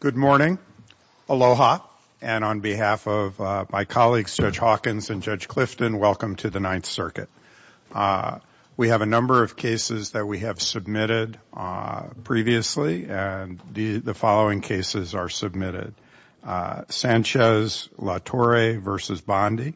Good morning. Aloha. And on behalf of my colleagues, Judge Hawkins and Judge Clifton, welcome to the Ninth Circuit. We have a number of cases that we have submitted previously, and the following cases are submitted. Sanchez-LaTorre v. Bondi,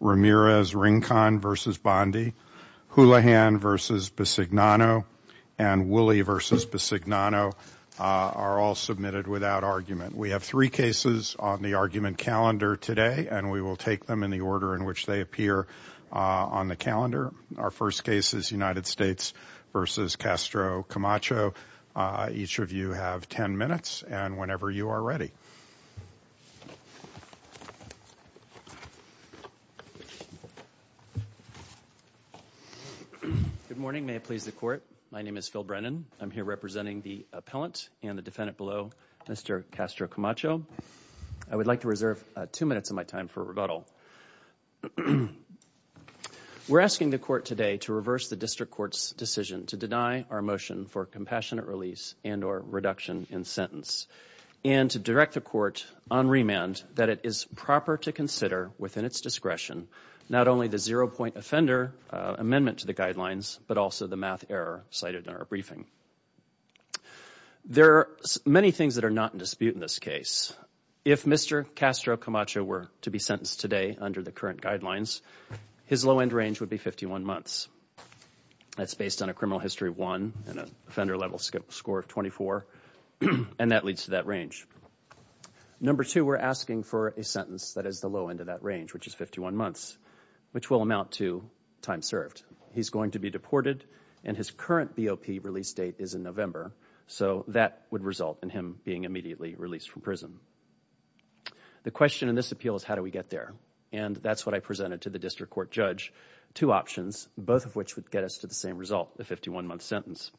Ramirez-Rincon v. Bondi, Houlihan v. Bisignano, and Woolley v. Bisignano are all submitted without argument. We have three cases on the argument calendar today, and we will take them in the order in which they appear on the calendar. Our first case is United States v. Castro-Camacho. Each of you have 10 minutes and whenever you are ready. Phil Brennan Good morning. May it please the Court, my name is Phil Brennan. I'm here representing the appellant and the defendant below, Mr. Castro-Camacho. I would like to reserve two minutes of my time for rebuttal. We're asking the Court today to reverse the District Court's decision to deny our motion for compassionate release and or reduction in sentence, and to direct the Court on remand that it is proper to consider within its discretion not only the zero-point offender amendment to the guidelines, but also the math error cited in our briefing. There are many things that are not in dispute in this case. If Mr. Castro-Camacho were to be sentenced today under the current guidelines, his low-end range would be 51 months. That's based on a criminal history of one and an offender-level score of 24, and that leads to that range. Number two, we're asking for a sentence that is the low-end of that range, which is 51 months, which will amount to time served. He's going to be deported and his current BOP release date is in November, so that would result in him being immediately released from prison. The question in this appeal is how do we get there? And that's what I presented to the District Court judge, two options, both of which would get us to the same result, the 51-month sentence.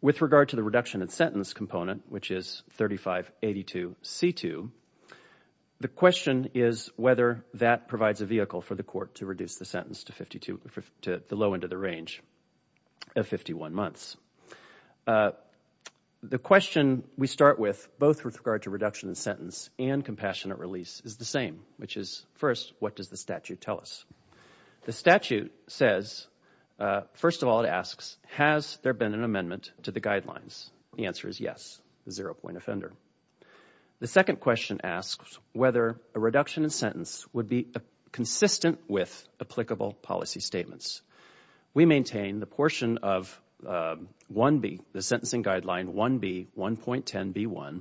With regard to the reduction in sentence component, which is 3582C2, the question is whether that provides a vehicle for the Court to reduce the sentence to the low-end of the range of 51 months. The question we start with, both with regard to reduction in sentence and compassionate release, is the same, which is, first, what does the statute tell us? The statute says, first of all, it asks, has there been an amendment to the guidelines? The answer is yes, the zero-point offender. The second question asks whether a reduction in sentence would be consistent with applicable policy statements. We maintain the portion of 1B, the sentencing guideline 1B1.10b1,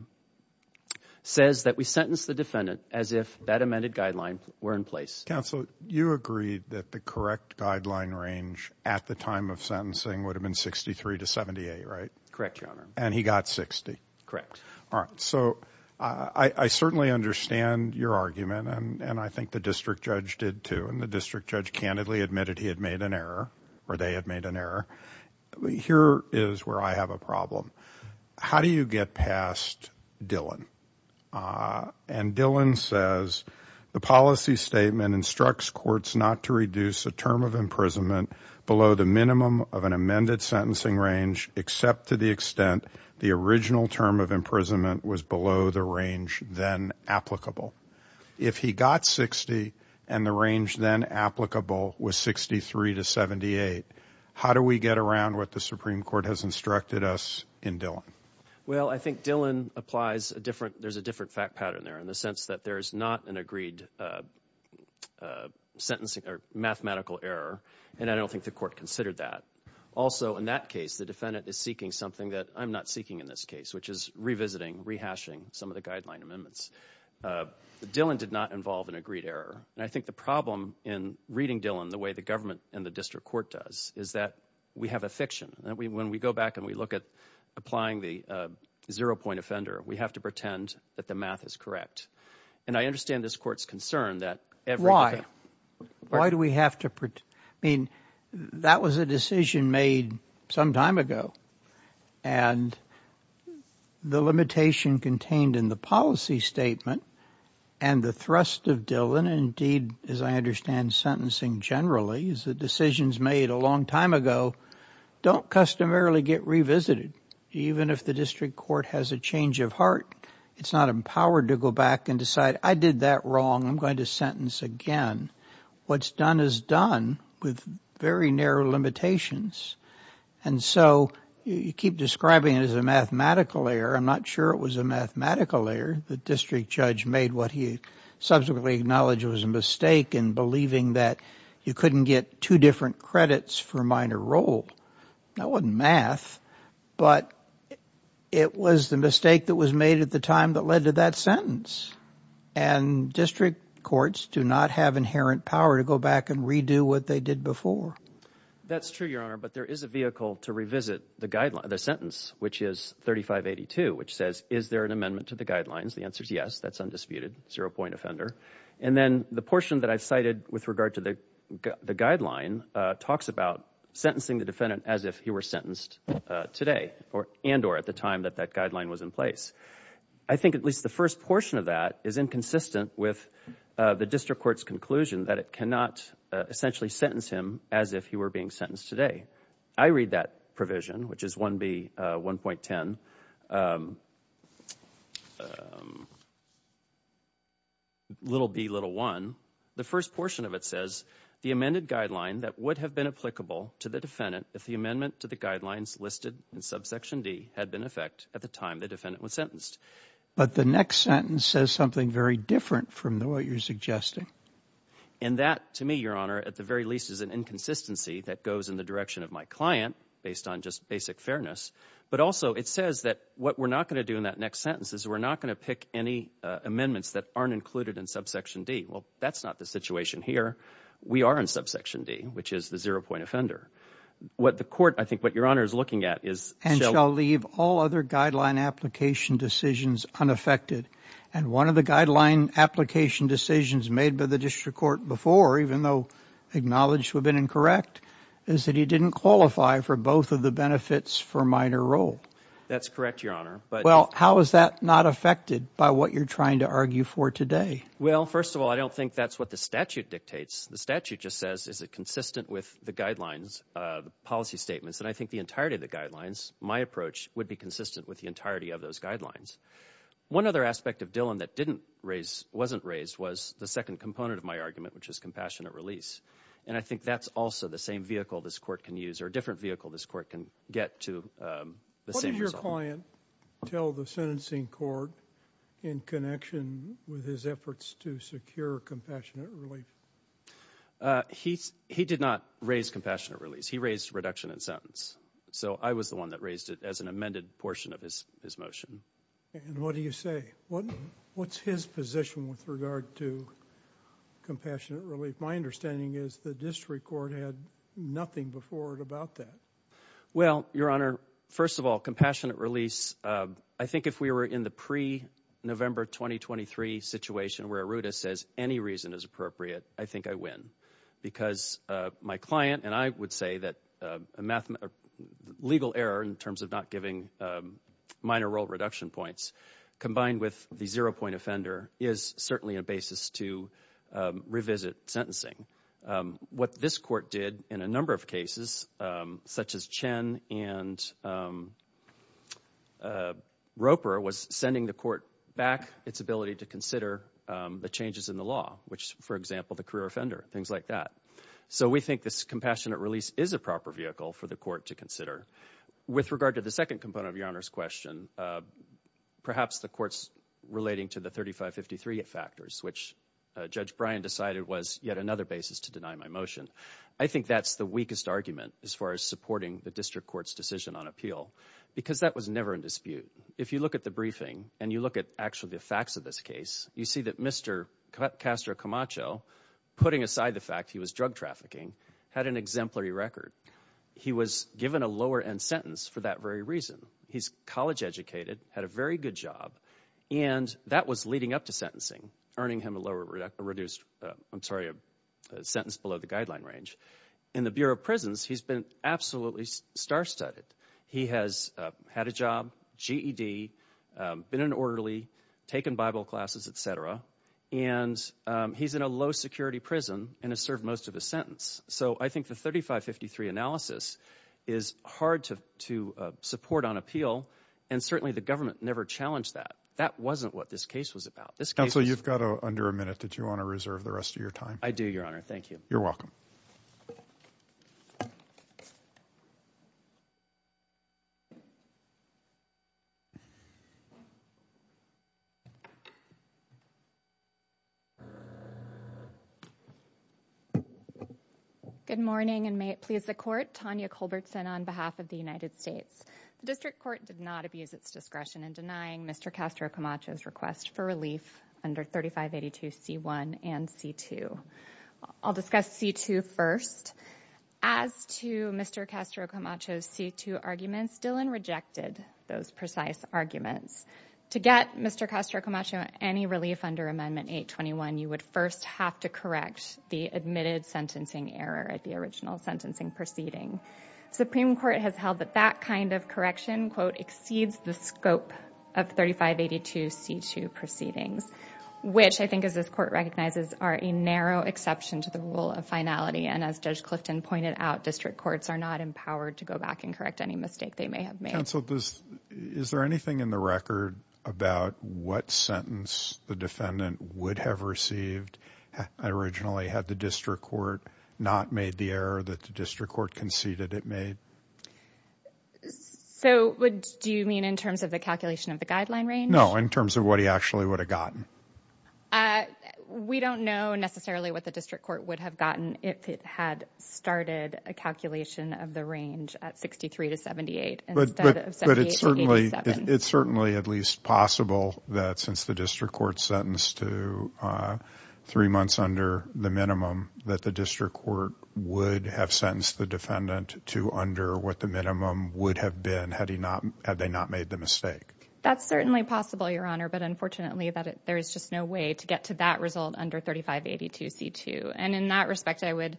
says that we sentence the defendant as if that amended guideline were in place. Counsel, you agreed that the correct guideline range at the time of sentencing would have been 63 to 78, right? Correct, Your Honor. And he got 60? Correct. All right. So I certainly understand your argument, and I think the district judge did too, and the district judge candidly admitted he had made an error, or they had made an error. Here is where I have a problem. How do you get past Dillon? And Dillon says, the policy statement instructs courts not to reduce a term of imprisonment below the minimum of an amended sentencing range, except to the extent the original term of imprisonment was below the range then applicable. If he got 60, and the range then applicable was 63 to 78, how do we get around what the Supreme Court has instructed us in Dillon? Well, I think Dillon applies a different, there is a different fact pattern there in the sense that there is not an agreed sentencing or mathematical error, and I don't think the court considered that. Also, in that case, the defendant is seeking something that I am not seeking in this case, which is revisiting, rehashing some of the guideline amendments. Dillon did not involve an agreed error. And I think the problem in reading Dillon the way the government and the district court does is that we have a fiction. When we go back and we look at applying the zero-point offender, we have to pretend that the math is correct. And I understand this court's concern that every defendant... Why? Why do we have to pretend? I mean, that was a decision made some time ago, and the limitation contained in the policy statement and the thrust of Dillon, and indeed, as I believe, is that decisions made a long time ago don't customarily get revisited. Even if the district court has a change of heart, it's not empowered to go back and decide, I did that wrong, I'm going to sentence again. What's done is done with very narrow limitations. And so you keep describing it as a mathematical error. I'm not sure it was a mathematical error. The district judge made what he subsequently acknowledged was a mistake in believing that you couldn't get two different credits for a minor role. That wasn't math, but it was the mistake that was made at the time that led to that sentence. And district courts do not have inherent power to go back and redo what they did before. That's true, Your Honor, but there is a vehicle to revisit the sentence, which is 3582, which says, is there an amendment to the guidelines? The answer is yes, that's undisputed, zero-point offender. And then the portion that I've cited with regard to the guideline talks about sentencing the defendant as if he were sentenced today and or at the time that that guideline was in place. I think at least the first portion of that is inconsistent with the district court's conclusion that it cannot essentially sentence him as if he were being sentenced today. I read that provision, which is 1B, 1.10, little B, little 1. The first portion of it says, the amended guideline that would have been applicable to the defendant if the amendment to the guidelines listed in subsection D had been in effect at the time the defendant was sentenced. But the next sentence says something very different from what you're suggesting. And that, to me, Your Honor, at the very least, is an inconsistency that goes in the direction of my client, based on just basic fairness. But also, it says that what we're not going to do in that next sentence is we're not going to pick any amendments that aren't included in subsection D. Well, that's not the situation here. We are in subsection D, which is the zero-point offender. What the court, I think what Your Honor is looking at is – And shall leave all other guideline application decisions unaffected. And one of the guideline application decisions made by the district court before, even though acknowledged would have been incorrect, is that he didn't qualify for both of the benefits for minor role. That's correct, Your Honor. Well, how is that not affected by what you're trying to argue for today? Well, first of all, I don't think that's what the statute dictates. The statute just says, is it consistent with the guidelines, the policy statements? And I think the entirety of the guidelines, my approach, would be consistent with the entirety of those guidelines. One other aspect of Dillon that didn't raise, wasn't raised, was the second component of my argument, which is compassionate release. And I think that's also the same vehicle this court can use, or a different vehicle this court can get to the same result. What did your client tell the sentencing court in connection with his efforts to secure compassionate relief? He did not raise compassionate release. He raised reduction in sentence. So I was the one that raised it as an amended portion of his motion. And what do you say? What's his position with regard to compassionate relief? My understanding is the district court had nothing before it about that. Well, Your Honor, first of all, compassionate release, I think if we were in the pre-November 2023 situation where Arruda says any reason is appropriate, I think I win. Because my client and I would say that a legal error in terms of not giving minor role reduction points combined with the zero point offender is certainly a basis to revisit sentencing. What this court did in a number of cases, such as Chen and Roper, was sending the court back its ability to consider the changes in the law, which, for example, the career offender, things like that. So we think this compassionate release is a proper vehicle for the court to consider. With regard to the second component of Your Honor's question, perhaps the court's relating to the 3553 factors, which Judge Bryan decided was yet another basis to deny my motion. I think that's the weakest argument as far as supporting the district court's decision on appeal because that was never in dispute. If you look at the briefing and you look at actually the facts of this case, you see that Mr. Castro Camacho, putting aside the fact he was drug trafficking, had an exemplary record. He was given a lower end sentence for that very reason. He's college educated, had a very good job, and that was leading up to sentencing, earning him a lower reduced, I'm sorry, a sentence below the guideline range. In the Bureau of Prisons, he's been absolutely star-studded. He has had a job, GED, been orderly, taken Bible classes, etc., and he's in a low-security prison and has served most of his sentence. So I think the 3553 analysis is hard to support on appeal, and certainly the government never challenged that. That wasn't what this case was about. Counsel, you've got under a minute. Did you want to reserve the rest of your time? I do, Your Honor. Thank you. You're welcome. Good morning, and may it please the Court. Tanya Culbertson on behalf of the United States. The District Court did not abuse its discretion in denying Mr. Castro Camacho's request for relief under 3582C1 and C2. I'll discuss C2 first. As to Mr. Castro Camacho's C2 arguments, Dillon rejected those precise arguments. To get Mr. Castro Camacho any relief under Amendment 821, you would first have to correct the admitted sentencing error at the original sentencing proceeding. Supreme Court has held that that kind of correction, quote, exceeds the scope of 3582C2 proceedings, which I think, as this Court recognizes, are a narrow exception to the rule of finality, and as Judge Clifton pointed out, District Courts are not empowered to go back and correct any mistake they may have made. Counsel, is there anything in the record about what sentence the defendant would have received originally had the District Court not made the error that the District Court conceded it made? So, do you mean in terms of the calculation of the guideline range? No, in terms of what he actually would have gotten. We don't know necessarily what the District Court would have gotten if it had started a calculation of the range at 63 to 78 instead of 78 to 87. It's certainly at least possible that since the District Court sentenced to three months under the minimum, that the District Court would have sentenced the defendant to under what the minimum would have been had they not made the mistake. That's certainly possible, Your Honor, but unfortunately there's just no way to get to that result under 3582C2, and in that respect, I would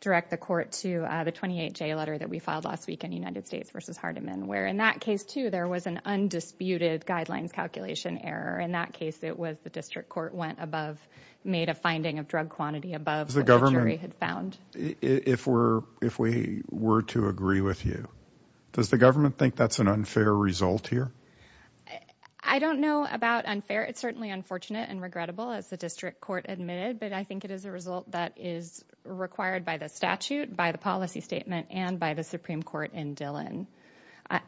direct the Court to the 28J letter that we filed last week in United States v. Hardiman, where in that case, too, there was an undisputed guidelines calculation error. In that case, it was the District Court went above, made a finding of drug quantity above what the jury had found. If we were to agree with you, does the government think that's an unfair result here? I don't know about unfair. It's certainly unfortunate and regrettable, as the District Court admitted, but I think it is a result that is required by the statute, by the policy statement, and by the Supreme Court in Dillon.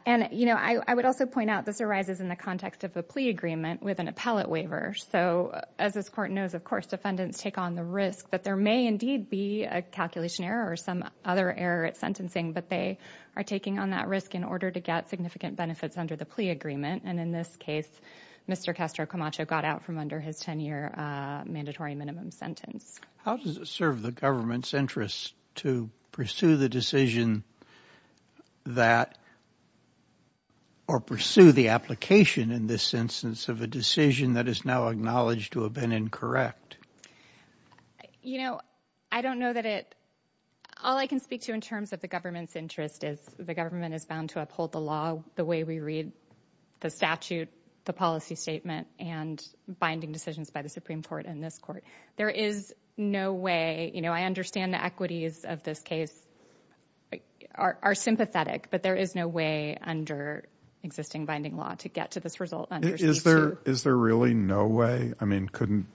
And, you know, I would also point out this arises in the context of a plea agreement with an appellate waiver, so as this Court knows, of course, defendants take on the risk that there may indeed be a calculation error or some other error at sentencing, but they are taking on that risk in order to get significant benefits under the plea agreement, and in this case, Mr. Castro Camacho got out from under his 10-year mandatory minimum sentence. How does it serve the government's interest to pursue the decision that, or pursue the application in this instance of a decision that is now acknowledged to have been incorrect? You know, I don't know that it, all I can speak to in terms of the government's interest is the government is bound to uphold the law the way we read the statute, the policy statement, and binding decisions by the Supreme Court and this Court. There is no way, you know, I understand the equities of this case are sympathetic, but there is no way under existing binding law to get to this result under C-2. Is there really no way, I mean, couldn't,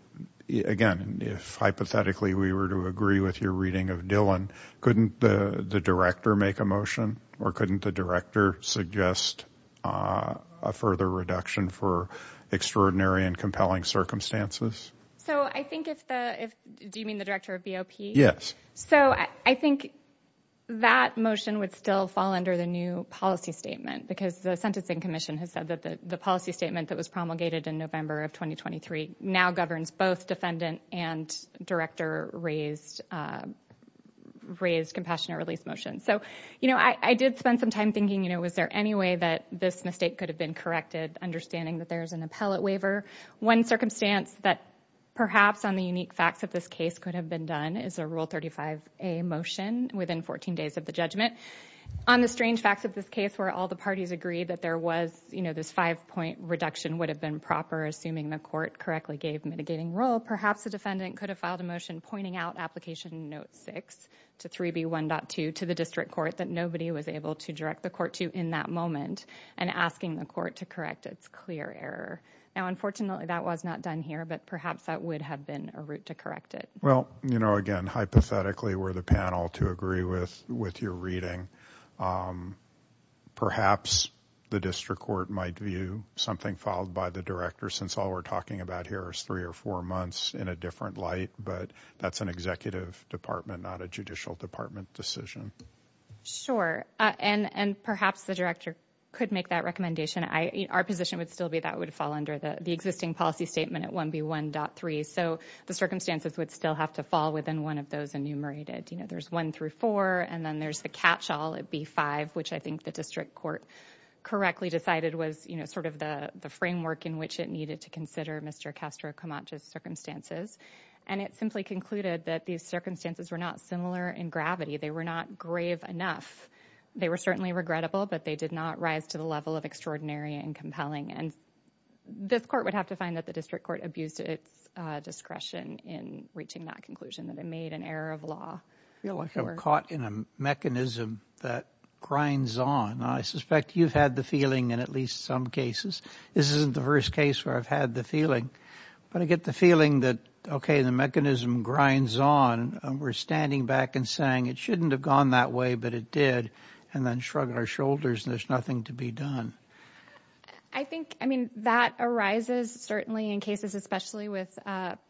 again, if hypothetically we were to agree with your reading of Dillon, couldn't the Director make a motion, or couldn't the Director suggest a further reduction for extraordinary and compelling circumstances? So, I think if the, do you mean the Director of BOP? Yes. So, I think that motion would still fall under the new policy statement, because the Sentencing Commission has said that the policy statement that was promulgated in November of 2023 now governs both defendant and Director raised, raised compassionate release motions. So, you know, I did spend some time thinking, you know, was there any way that this mistake could have been corrected, understanding that there is an appellate waiver. One circumstance that perhaps on the unique facts of this case could have been done is a Rule 35a motion within 14 days of the judgment. On the strange facts of this case, where all the parties agreed that there was, you know, this five-point reduction would have been proper, assuming the Court correctly gave mitigating rule, perhaps the defendant could have filed a motion pointing out Application Note 6 to 3B1.2 to the District Court that nobody was able to direct the Court to in that moment, and asking the Court to correct its clear error. Now, unfortunately, that was not done here, but perhaps that would have been a route to correct it. Well, you know, again, hypothetically, were the panel to agree with, with your reading, perhaps the District Court might view something filed by the Director, since all we're talking about here is three or four months in a different light, but that's an Executive Department, not a Judicial Department decision. Sure, and, and perhaps the Director could make that recommendation. Our position would still be that would fall under the existing policy statement at 1B1.3. So the circumstances would still have to fall within one of those enumerated. You know, there's one through four, and then there's the catch-all at B5, which I think the District Court correctly decided was, you know, sort of the framework in which it needed to consider Mr. Castro Camacho's circumstances. And it simply concluded that these circumstances were not similar in gravity. They were not grave enough. They were certainly regrettable, but they did not rise to the level of extraordinary and compelling. And this Court would have to find that the District Court abused its discretion in reaching that conclusion, that it made an error of law. I feel like I'm caught in a mechanism that grinds on. I suspect you've had the feeling in at least some cases. This isn't the first case where I've had the feeling, but I get the feeling that, okay, the mechanism grinds on, and we're standing back and saying it shouldn't have gone that way, but it did, and then shrug our shoulders, and there's nothing to be done. I think, I mean, that arises certainly in cases especially with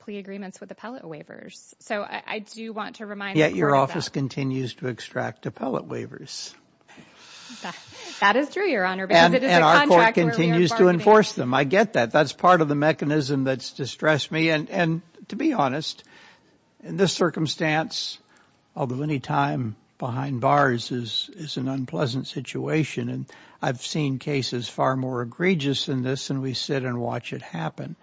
plea agreements with appellate waivers. So, I do want to remind the Court of that. Yet your office continues to extract appellate waivers. That is true, Your Honor, because it is a contract where we are a part of it. And our Court continues to enforce them. I get that. That's part of the mechanism that's distressed me. And to be honest, in this circumstance, although any time behind bars is an unpleasant situation, and I've seen cases far more egregious than this, and we sit and watch it happen.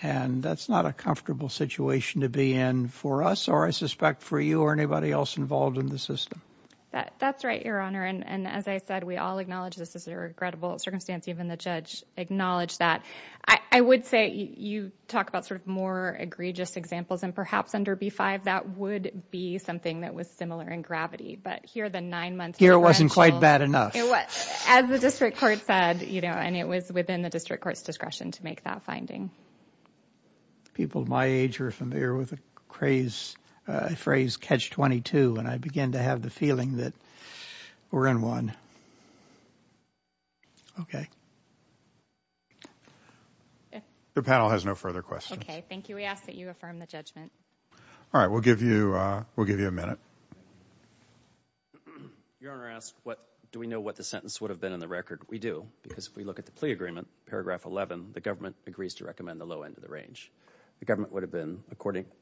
And that's not a comfortable situation to be in for us, or I suspect for you or anybody else involved in the system. That's right, Your Honor. And as I said, we all acknowledge this is a regrettable circumstance, even the judge acknowledged that. I would say you talk about sort of more egregious examples, and perhaps under B-5, that would be something that was similar in gravity. But here the nine-month deferential... Here it wasn't quite bad enough. It was. As the district court said, you know, and it was within the district court's discretion to make that finding. People my age are familiar with a phrase, catch 22, and I begin to have the feeling that we're in one. Okay. Your panel has no further questions. Thank you. We ask that you affirm the judgment. All right. We'll give you a minute. Your Honor, I ask, do we know what the sentence would have been in the record? We do, because if we look at the plea agreement, paragraph 11, the government agrees to recommend the low end of the range. The government would have been,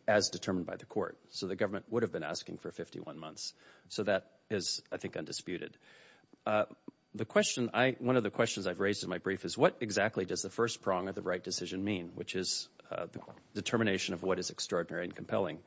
as determined by the court, so the government would have been asking for 51 months. So that is, I think, undisputed. The question I... One of the questions I've raised in my brief is, what exactly does the first prong of the right decision mean? Which is the determination of what is extraordinary and compelling.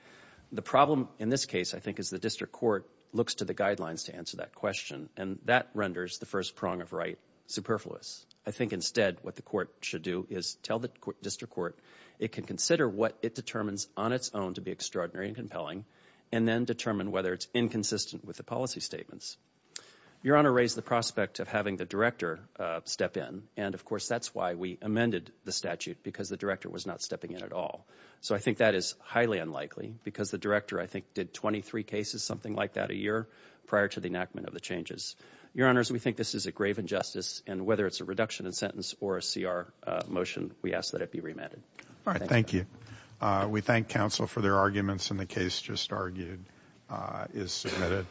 The problem in this case, I think, is the district court looks to the guidelines to answer that question, and that renders the first prong of right superfluous. I think instead what the court should do is tell the district court it can consider what it determines on its own to be extraordinary and compelling, and then determine whether it's inconsistent with the policy statements. Your Honor raised the prospect of having the director step in, and of course that's why we amended the statute, because the director was not stepping in at all. So I think that is highly unlikely, because the director, I think, did 23 cases, something like that, a year prior to the enactment of the changes. Your Honors, we think this is a grave injustice, and whether it's a reduction in sentence or a CR motion, we ask that it be remanded. All right, thank you. We thank counsel for their arguments, and the case just argued is submitted.